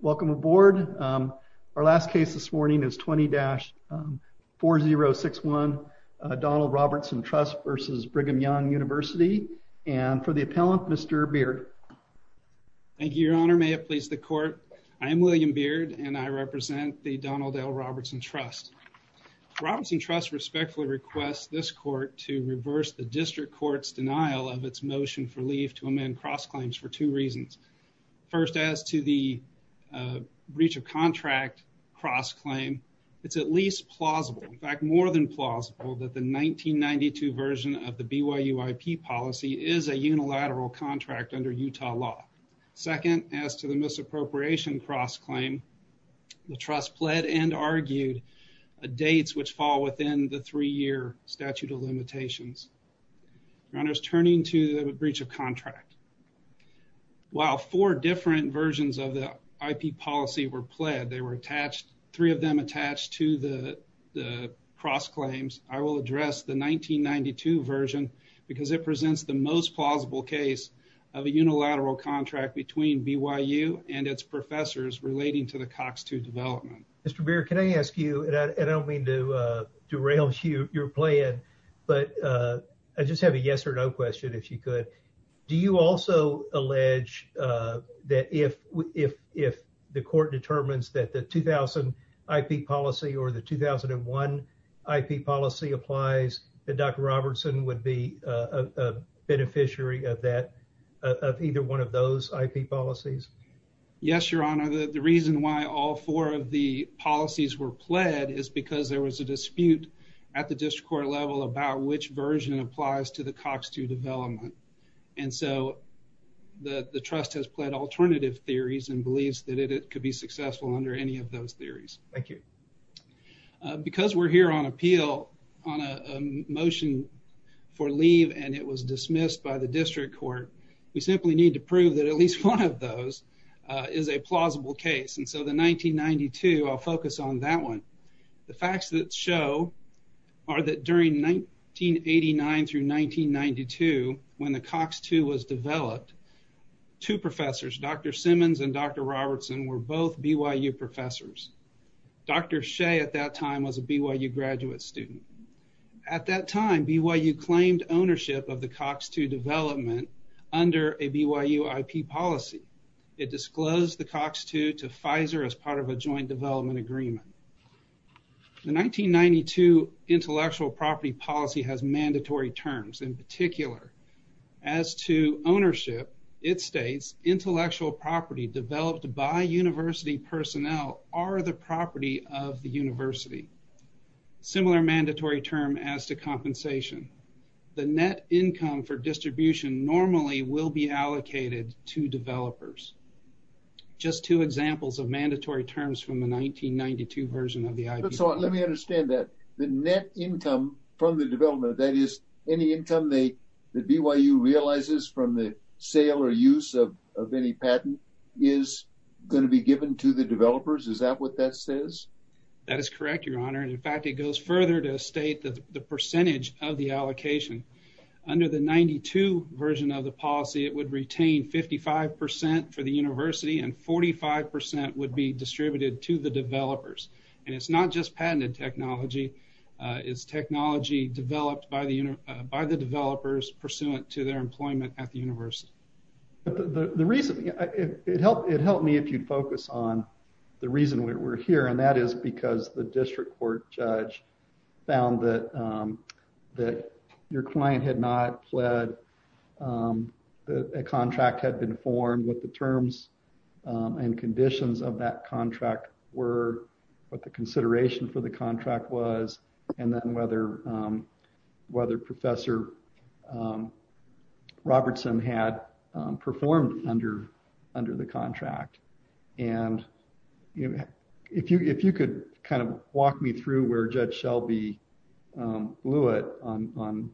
Welcome aboard. Our last case this morning is 20-4061, Donald Robertson Trust v. Brigham Young University. And for the appellant, Mr. Beard. Thank you, Your Honor. May it please the Court. I am William Beard, and I represent the Donald L. Robertson Trust. The Robertson Trust respectfully requests this Court to reverse the District Court's denial of its motion for leave to amend cross-claims for two reasons. First, as to the breach of contract cross-claim, it's at least plausible, in fact, more than plausible that the 1992 version of the BYUIP policy is a unilateral contract under Utah law. Second, as to the misappropriation cross-claim, the Trust pled and argued dates which fall within the three-year statute of limitations. Your Honor, turning to the breach of contract. While four different versions of the IP policy were pled, they were attached, three of them attached to the cross-claims. I will address the 1992 version because it presents the most plausible case of a unilateral contract between BYU and its professors relating to the Cox II development. Mr. Beard, can I ask you, and I don't mean to derail your plan, but I just have a yes or no question, if you could. Do you also allege that if the Court determines that the 2000 IP policy or the 2001 IP policy applies, that Dr. Robertson would be a beneficiary of that, of either one of those IP policies? Yes, Your Honor. The reason why all four of the policies were pled is because there was a dispute at the District Court level about which version applies to the Cox II development. And so, the Trust has pled alternative theories and believes that it could be successful under any of those theories. Because we're here on appeal on a motion for leave and it was dismissed by the District Court, we simply need to prove that at least one of those is a plausible case. And so, the 1992, I'll focus on that one. The facts that show are that during 1989 through 1992, when the Cox II was developed, two professors, Dr. Simmons and Dr. Robertson, were both BYU professors. Dr. Shea at that time was a BYU graduate student. At that time, BYU claimed ownership of the Cox II development under a BYU IP policy. It disclosed the Cox II to Congress as part of a joint development agreement. The 1992 intellectual property policy has mandatory terms. In particular, as to ownership, it states intellectual property developed by university personnel are the property of the university. Similar mandatory term as to compensation. The net income for distribution normally will be allocated to developers. Just two examples of mandatory terms from the 1992 version of the IP policy. So, let me understand that. The net income from the development, that is, any income that BYU realizes from the sale or use of any patent is going to be given to the developers? Is that what that says? That is correct, Your Honor. In fact, it goes further to state the percentage of the allocation. Under the 1992 version of the policy, it would retain 55% for the university and 45% would be distributed to the developers. It is not just patented technology. It is technology developed by the developers pursuant to their employment at the university. The reason, it would help me if you would focus on the reason we are here, and that client had not pled, a contract had been formed, what the terms and conditions of that contract were, what the consideration for the contract was, and then whether Professor Robertson had performed under the contract. If you could kind of walk me through where Judge Shelby blew it on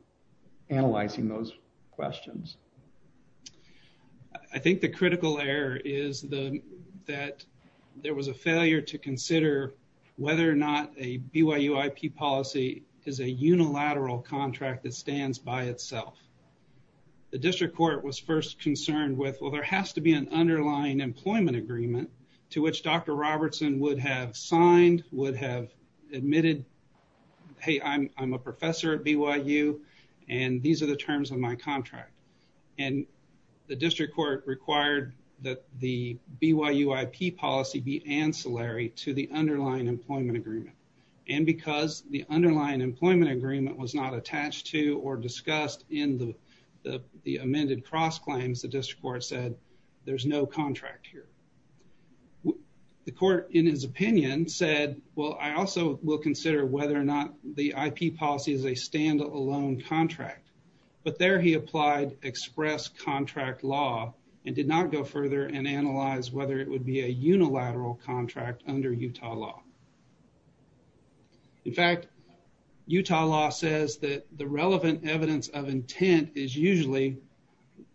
analyzing those questions. I think the critical error is that there was a failure to consider whether or not a BYU IP policy is a unilateral contract that stands by itself. The district court was first concerned with, well, there has to be an underlying employment agreement to which Dr. Robertson would have signed, would have admitted, hey, I am a professor at BYU, and these are the terms of my contract. The district court required that the BYU IP policy be ancillary to the underlying employment agreement. Because the underlying employment agreement was not attached to or discussed in the amended cross-claims, the district court said there is no contract here. The court, in his opinion, said, well, I also will consider whether or not the IP policy is a standalone contract. But there he applied express contract law and did not go further and analyze whether it would be a unilateral contract under Utah law. In fact, Utah law says that the relevant evidence of intent is usually,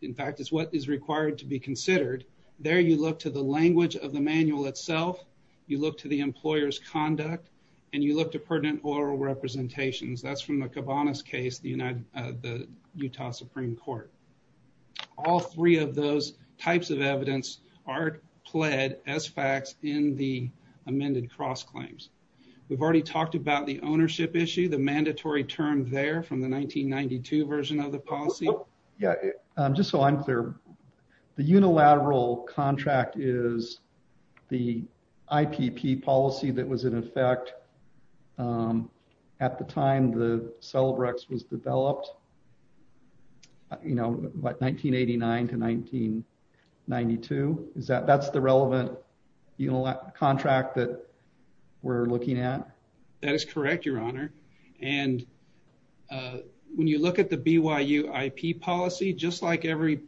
in fact, is what is required to be considered. There you look to the language of the manual itself, you look to the employer's conduct, and you look to pertinent oral representations. That is from the Cabanas case, the Utah Supreme Court. All three of those types of evidence are pled as facts in the amended cross-claims. We have already talked about the ownership issue, the mandatory term there from the 1992 version of the policy. Yeah, just so I'm clear, the unilateral contract is the IPP policy that was in effect at the time the Celebrex was developed, you know, like 1989 to 1992? That's the relevant contract that we're looking at? That is correct, your honor. And when you look at the BYU IP policy, just like every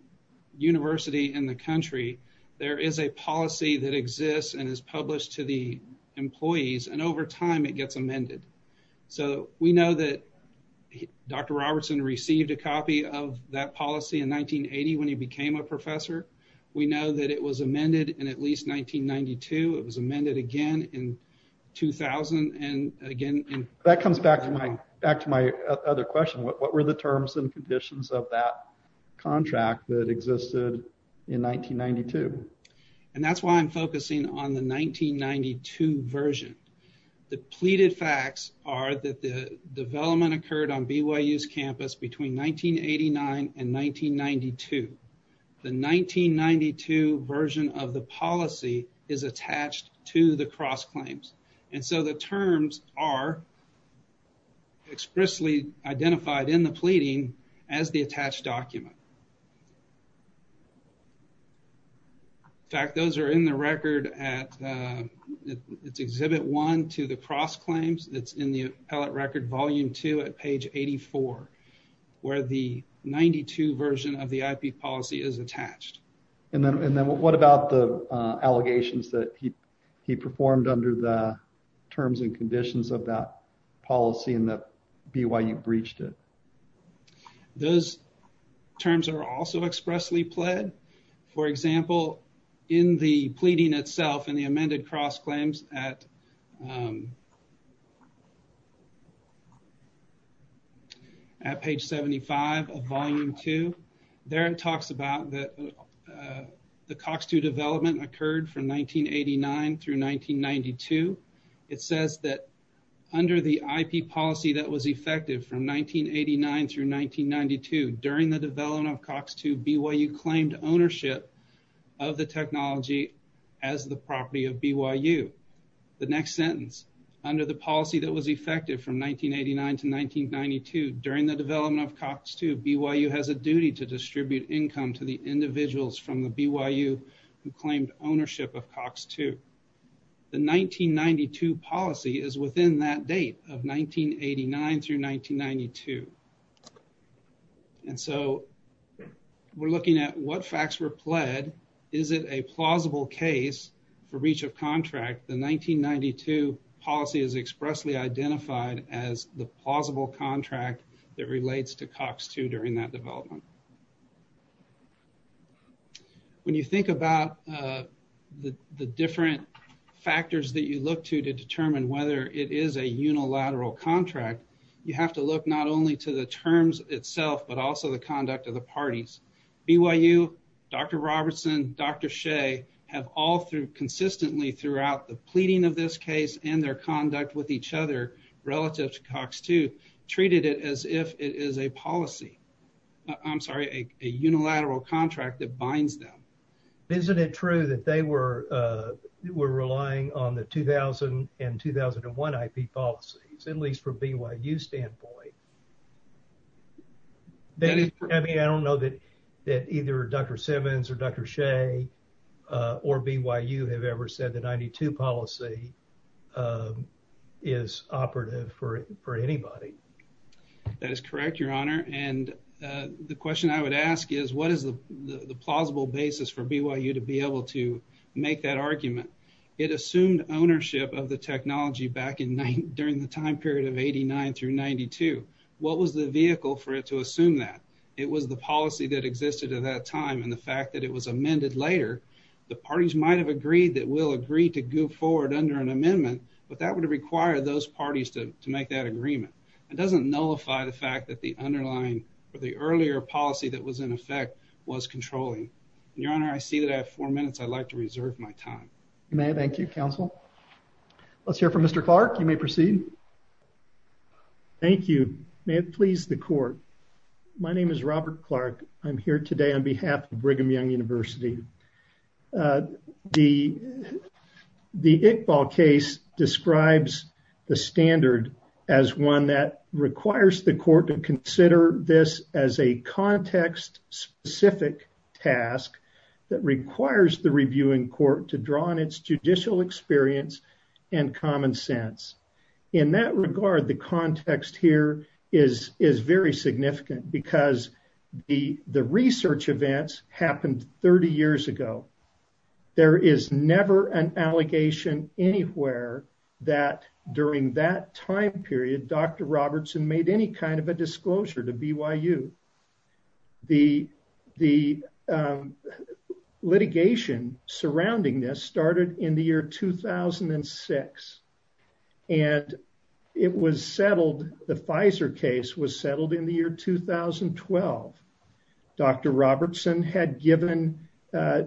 university in the country, there is a policy that exists and is published to the employees. And over time, it gets amended. So we know that Dr. Robertson received a copy of that policy in 1980 when he became a professor. We know that it was amended in at least 1992. It was amended again in 2000. Again, that comes back to my other question. What were the terms and conditions of that contract that existed in 1992? And that's why I'm focusing on the 1992 version. The pleaded facts are that the development occurred on BYU's campus between 1989 and 1992. The 1992 version of the policy is attached to the cross-claims. And so the terms are expressly identified in the pleading as the attached document. In fact, those are in the record at Exhibit 1 to the cross-claims that's in the appellate record, Volume 2 at page 84, where the 1992 version of the IP policy is attached. And then what about the allegations that he performed under the terms and conditions of that policy and that BYU breached it? Those terms are also expressly pled. For example, in the pleading itself, in the amended cross-claims at page 75 of Volume 2, there it talks about the Cox2 development occurred from 1989 through 1992. It says that under the IP policy that was effective from 1989 through 1992, during the development of Cox2, BYU claimed ownership of the technology as the property of BYU. The next sentence, under the policy that was effective from 1989 to 1992, during the development of Cox2, BYU has a duty to distribute income to the individuals from the BYU who claimed ownership of Cox2. The 1992 policy is within that date of 1989 through 1992. And so, we're looking at what facts were pled. Is it a plausible case for breach of contract? The 1992 policy is expressly identified as the plausible contract that relates to Cox2 during that development. When you think about the different factors that you look to to determine whether it is a unilateral contract, you have to look not only to the terms itself, but also the conduct of the parties. BYU, Dr. Robertson, Dr. Shea have all consistently throughout the pleading of this case and their conduct with each other relative to Cox2, treated it as if it is a policy. I'm sorry, a unilateral contract that binds them. Isn't it true that they were relying on the 2000 and 2001 IP policies, at least from BYU standpoint? I mean, I don't know that either Dr. Simmons or Dr. Shea or BYU have ever said the 92 policy is operative for anybody. That is correct, your honor. And the question I would ask is, what is the plausible basis for BYU to be able to make that argument? It assumed ownership of the technology back in during the time period of 89 through 92. What was the vehicle for it to assume that? It was the policy that existed at that time and the fact that it was amended later. The parties might have agreed that we'll agree to go forward under an amendment, but that would require those parties to make that agreement. It doesn't nullify the fact that the underlying or the earlier policy that was in effect was controlling. Your honor, I see that I have four minutes. I'd like to reserve my time. You may. Thank you, counsel. Let's hear from Mr. Clark. You may proceed. Thank you. May it please the court. My name is Robert Clark. I'm here today on behalf of the Iqbal case describes the standard as one that requires the court to consider this as a context specific task that requires the reviewing court to draw on its judicial experience and common sense. In that regard, the context here is very significant because the research events happened 30 years ago. There is never an allegation anywhere that during that time period, Dr. Robertson made any kind of a disclosure to BYU. The litigation surrounding this started in the year 2006 and it was settled. The Pfizer case was settled in the year 2012. Dr. Robertson had given a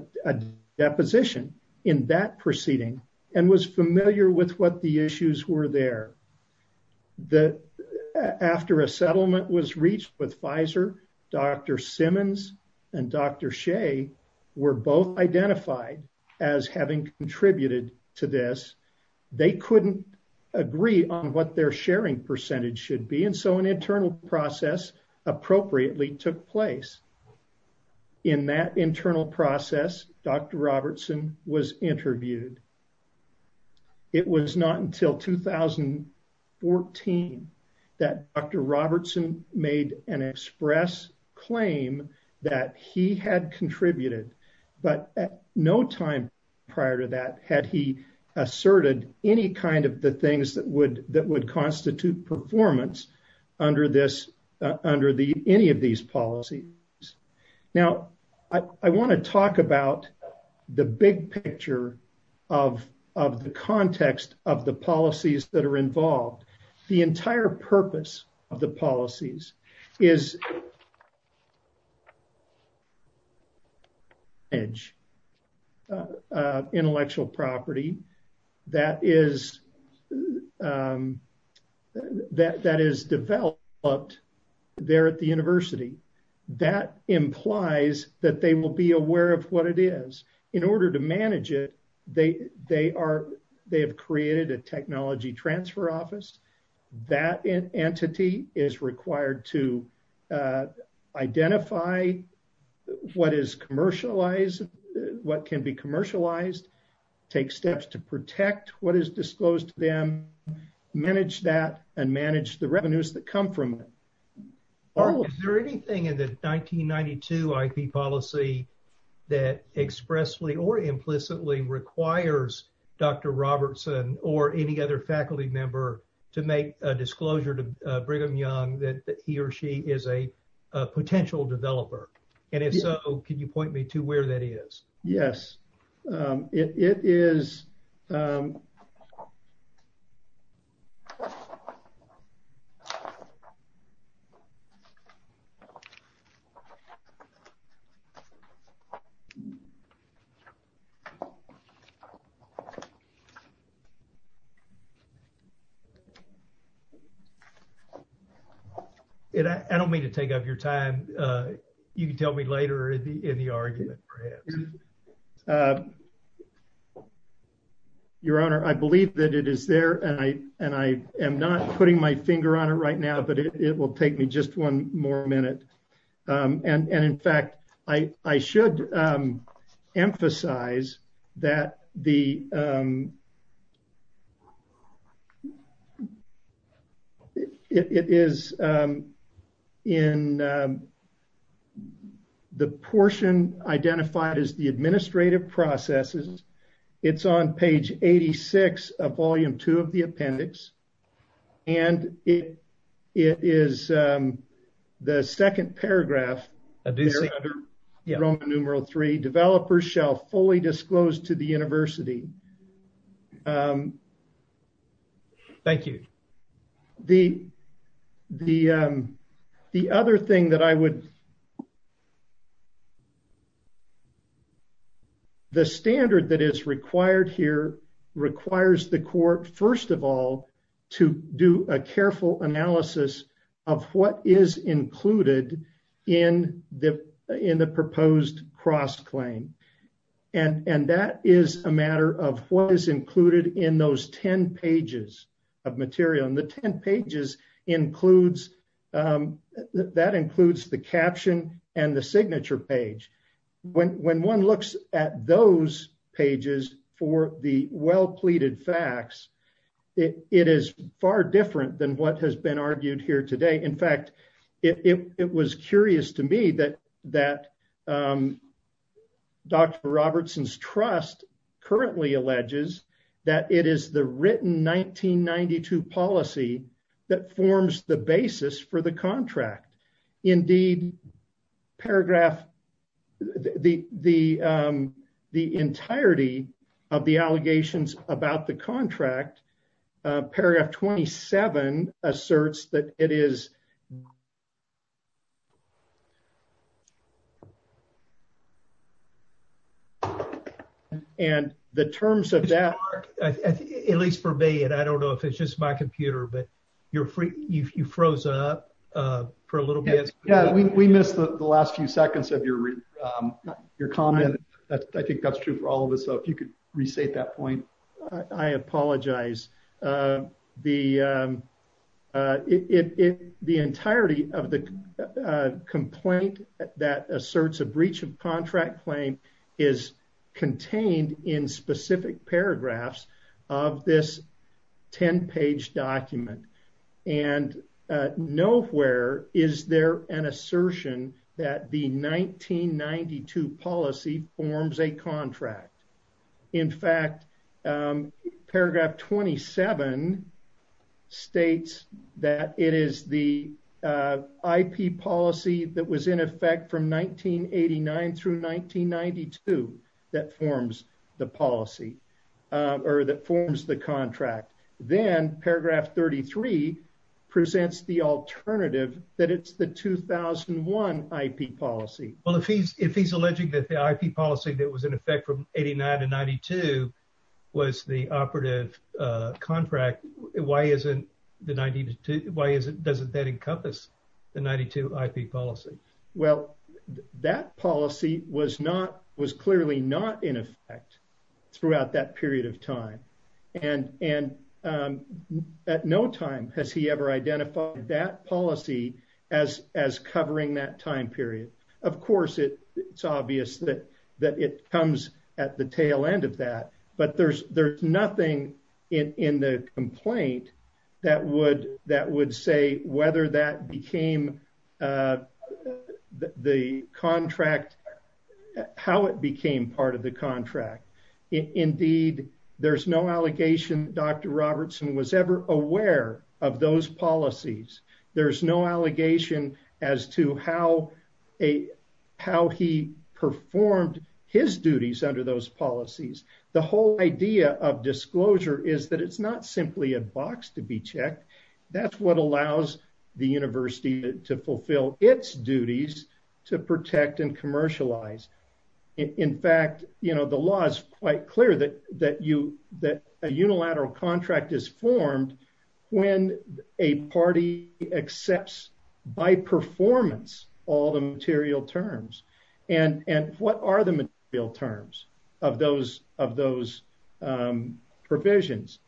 deposition in that proceeding and was familiar with what the issues were there. After a settlement was reached with Pfizer, Dr. Simmons and Dr. Shea were both identified as having contributed to this. They couldn't agree on what their sharing percentage should be and so an internal process appropriately took place. In that internal process, Dr. Robertson was interviewed. It was not until 2014 that Dr. Robertson made an express claim that he had contributed, but at no time prior to that had he asserted any kind of the under any of these policies. Now, I want to talk about the big picture of the context of the policies that are involved. The entire purpose of the policies is to manage intellectual property that is developed there at the university. That implies that they will be aware of what it is. In order to manage it, they have created a technology transfer office. That entity is required to identify what is commercialized, what can be commercialized, take steps to protect what is disclosed to them, manage that, and manage the revenues that come from it. Is there anything in the 1992 IP policy that expressly or implicitly requires Dr. Robertson or any other faculty member to make a disclosure to Brigham Young that he or she is a potential developer? If so, can you point me to where that is? Yes. It is there. I don't mean to take up your time. You can tell me later in the argument. Your Honor, I believe that it is there. I am not putting my finger on it right now, but it will take me just one more minute. In fact, I should emphasize that the portion identified as the administrative processes is on page 86 of volume 2 of the appendix. It is the second paragraph, Roman numeral 3, developers shall fully disclose to the university of Michigan. Thank you. The standard that is required here requires the court, first of all, to do a careful analysis of what is included in the proposed cross-claim. That is a matter of what is included in those 10 pages of material. The 10 pages includes the caption and the signature page. When one looks at those pages for the well-pleaded facts, it is far different than what has been argued here today. In fact, it was curious to me that Dr. Robertson's trust currently alleges that it is the written 1992 policy that forms the basis for the contract. Indeed, the entirety of the allegations about the contract, paragraph 27 asserts that it is. We missed the last few seconds of your comment. I think that is true for all of it. The entirety of the complaint that asserts a breach of contract claim is contained in specific paragraphs of this 10-page document. Nowhere is there an assertion that the 1992 policy forms a policy. Paragraph 27 states that it is the IP policy that was in effect from 1989-1992 that forms the policy or that forms the contract. Then paragraph 33 presents the alternative that it is the 2001 IP policy. If he is alleging that the IP policy that was in effect from 1992-1992 is not a contract, why doesn't that encompass the 1992 IP policy? That policy was clearly not in effect throughout that period of time. At no time has he ever identified that policy as covering that time period. Of course, it is obvious that it comes at the tail end of that, but there is nothing in the complaint that would say how it became part of the contract. Indeed, there is no allegation that Dr. Robertson was ever aware of those policies. There is no allegation as to how he performed his duties under those policies. The whole idea of disclosure is that it is not simply a box to be checked. That is what allows the university to fulfill its duties to protect and commercialize. In fact, the law is quite clear that a unilateral contract is formed when a party accepts by performance all the material terms. What are the material terms of those provisions?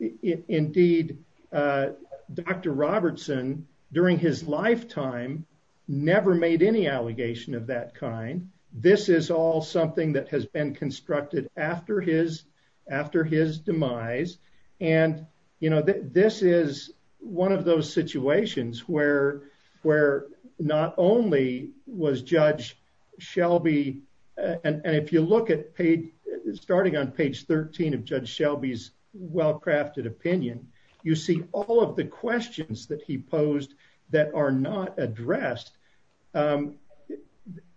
Indeed, Dr. Robertson, during his lifetime, never made any allegation of that kind. This is all something that has been constructed after his demise. This is one of those situations where not only was Judge Shelby, and if you look at starting on page 13 of Judge Shelby's well-crafted opinion, you see all of the questions that he posed that are not addressed.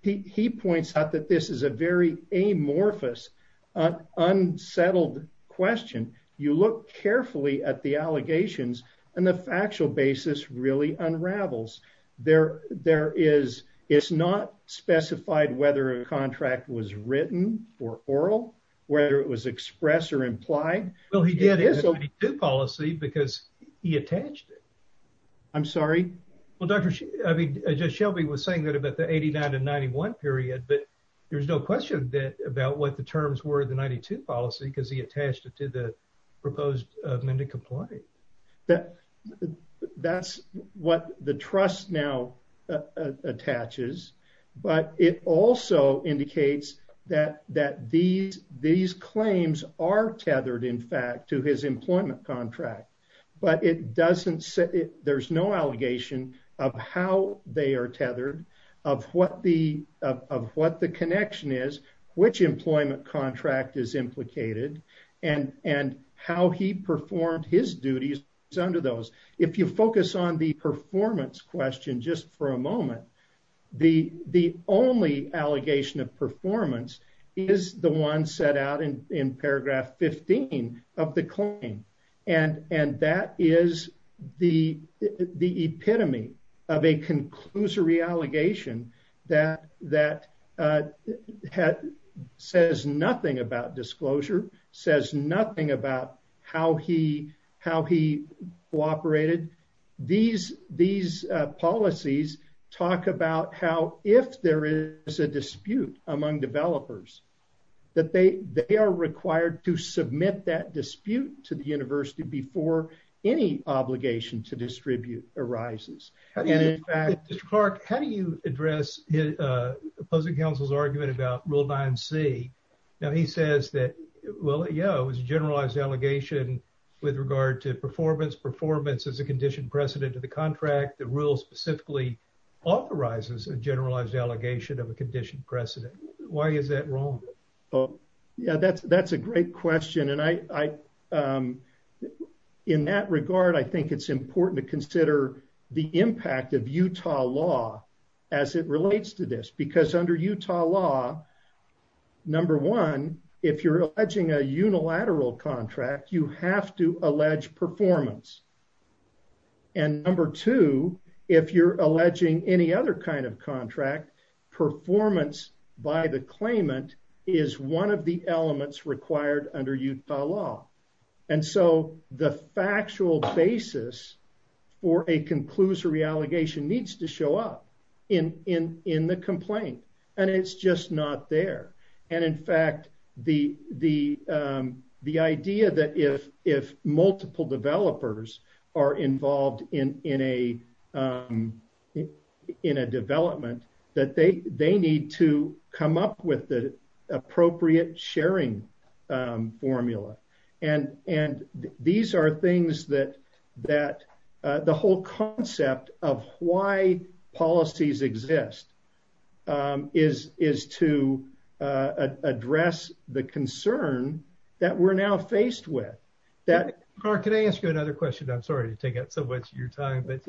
He points out that this is a very amorphous, unsettled question. You look carefully at the allegations, and the factual basis really unravels. It is not specified whether a contract was written or oral, whether it was expressed or implied. He did have a policy because he attached it. I'm sorry? Judge Shelby was saying that about the 89 to 91 period, but there is no question about what the terms were in the 92 policy because he attached it to the proposed amendment to these claims. These claims are tethered, in fact, to his employment contract, but there is no allegation of how they are tethered, of what the connection is, which employment contract is implicated, and how he performed his duties under those. If you focus on the performance question just for a moment, the only allegation of performance is the one set out in paragraph 15 of the claim. That is the epitome of a conclusory allegation that says nothing about disclosure, says nothing about how he cooperated. These policies talk about how if there is a dispute among developers, that they are required to submit that dispute to the university before any obligation to distribute arises. Mr. Clark, how do you address opposing counsel's argument about rule 9C? He says that it was a generalized allegation with regard to performance. Performance is a conditioned precedent to the contract. The rule specifically authorizes a generalized allegation of a conditioned precedent. Why is that wrong? That is a great question. In that regard, I think it is important to consider the impact of Utah law as it relates to this. Under Utah law, number one, if you are alleging a unilateral contract, you have to allege performance. Number two, if you are alleging any other kind of contract, performance by the claimant is one of the elements required under Utah law. The factual basis for a conclusory allegation needs to show up in the complaint. It is just there. In fact, the idea that if multiple developers are involved in a development, that they need to come up with the appropriate sharing formula. These are things that the whole concept of why policies exist is to address the concern that we are now faced with. Clark, can I ask you another question? I am sorry to take up so much of your time. In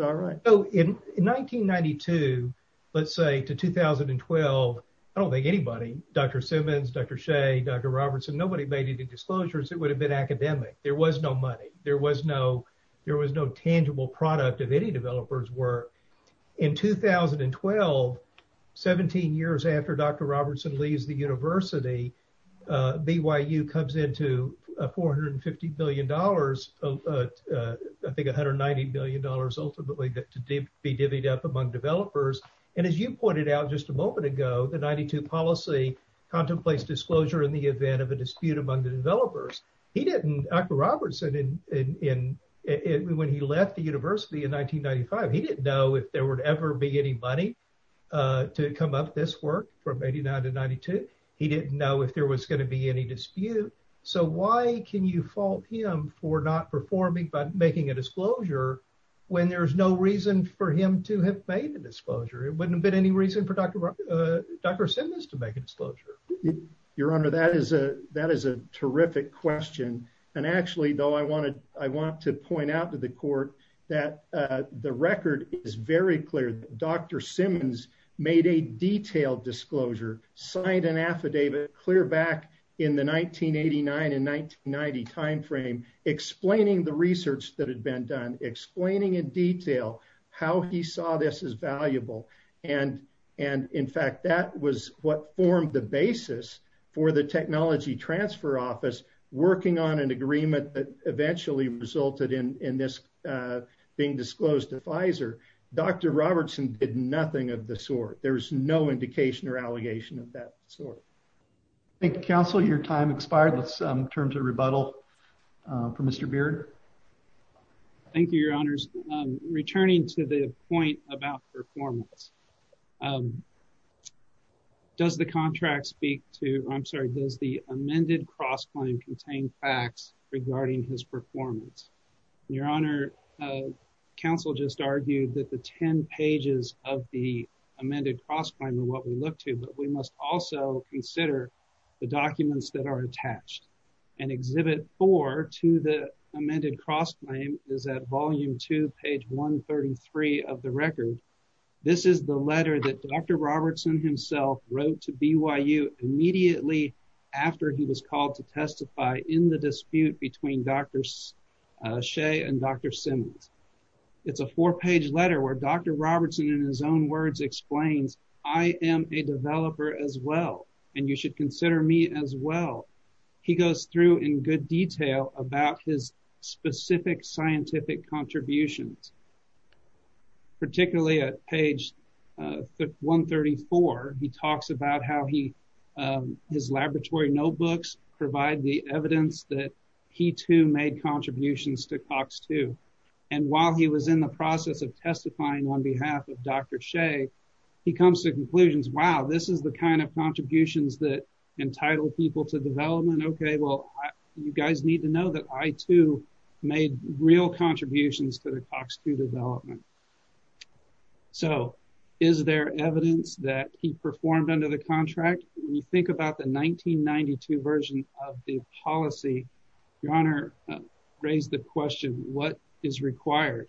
1992, let's say to 2012, I don't think anybody, Dr. Simmons, Dr. Shea, Dr. Robertson, made any disclosures. It would have been academic. There was no money. There was no tangible product of any developer's work. In 2012, 17 years after Dr. Robertson leaves the university, BYU comes into $450 billion, I think $190 billion ultimately to be divvied up among developers. As you pointed out just a moment ago, the 92 policy contemplates disclosure in the event of a dispute among the developers. Dr. Robertson, when he left the university in 1995, he didn't know if there would ever be any money to come up this work from 89 to 92. He didn't know if there was going to be any dispute. Why can you fault him for not performing by making a disclosure when there's no reason for him to have made a disclosure? It wouldn't have been any reason for Dr. Simmons to make a disclosure. Your Honor, that is a terrific question. Actually, though, I want to point out to the court that the record is very clear. Dr. Simmons made a detailed disclosure, signed an affidavit clear back in the 1989 and 1990 timeframe, explaining the research that had been done, explaining in detail how he saw this as valuable. In fact, that was what formed the basis for the technology transfer office working on an agreement that eventually resulted in this being disclosed to Pfizer. Dr. Robertson did nothing of the sort. There's no indication or allegation of that sort. Thank you, counsel. Your time expired. Let's turn to rebuttal from Mr Beard. Thank you, Your Honors. Returning to the point about performance, does the contract speak to? I'm sorry. Does the amended cross claim contain facts regarding his performance? Your Honor, Council just argued that the 10 pages of the amended cross plan what we look to. But we must also consider the documents that are attached in Exhibit 4 to the amended cross claim is at Volume 2, page 133 of the record. This is the letter that Dr. Robertson himself wrote to BYU immediately after he was called to testify in the dispute between Dr. Shea and Dr. Simmons. It's a four-page letter where Dr. Robertson, in his own words, explains, I am a developer as well, and you should consider me as well. He goes through in good detail about his specific scientific contributions. Particularly at page 134, he talks about how his laboratory notebooks provide the evidence that he too made contributions to COX-2. And while he was in the process of testifying on behalf of Dr. Shea, he comes to conclusions. Wow, this is the kind of contributions that entitle people to development. Okay, well, you guys need to know that I too made real contributions to the COX-2 development. So is there evidence that he performed under the contract? When you think about the 1992 version of the policy, Your Honor raised the question, what is required?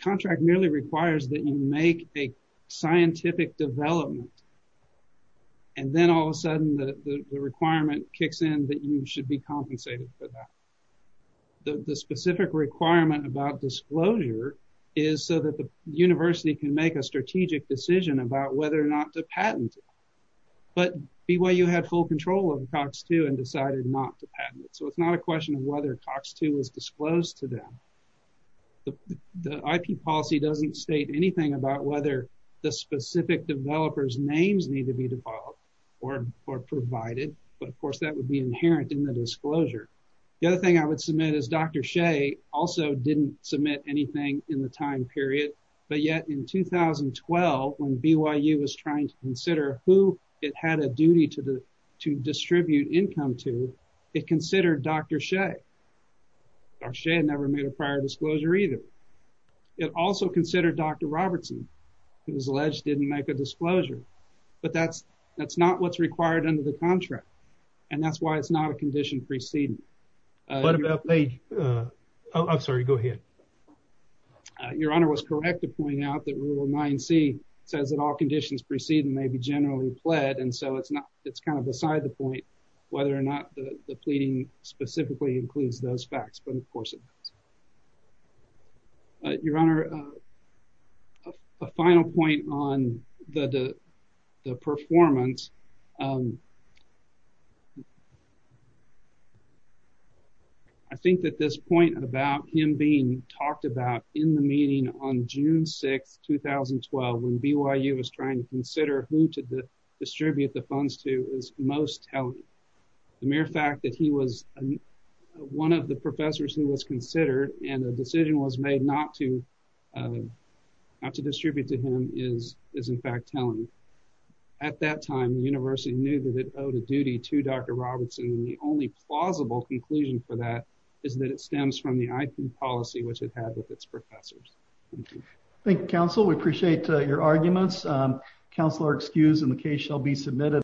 Contract merely requires that you make a scientific development, and then all of a sudden the requirement kicks in that you should be compensated for that. The specific requirement about disclosure is so that the university can make a strategic decision about whether or not to patent it. But BYU had full control of COX-2 and decided not to patent it. So it's not a question of whether COX-2 was disclosed to them. The IP policy doesn't state anything about whether the specific developer's names need to be devolved or provided, but of course that would be inherent in the disclosure. The other thing I would submit is Dr. Shea also didn't submit anything in the time period, but yet in 2012 when BYU was trying to consider who it had a duty to distribute income to, it considered Dr. Shea. Dr. Shea never made a prior disclosure either. It also considered Dr. Robertson, who was alleged didn't make a disclosure. But that's not what's required under the contract, and that's why it's not a condition preceding. What about page... I'm sorry, go ahead. Your Honor was correct to point out that Rule 9c says that all conditions precede and may be generally pled, and so it's not, it's kind of beside the point whether or not the pleading specifically includes those facts, but of course it does. Your Honor, a final point on the performance. I think that this point about him being talked about in the meeting on June 6, 2012 when BYU was trying to consider who to distribute the funds to is most telling. The mere fact that he was one of the professors who was considered and a decision was made not to distribute to him is in fact telling. At that time, the university knew that it owed a duty to Dr. Robertson, and the only plausible conclusion for that is that it stems from the IP policy which it had with its professors. Thank you. Thank you, counsel. We appreciate your arguments. Counsel are excused, and the case shall be submitted.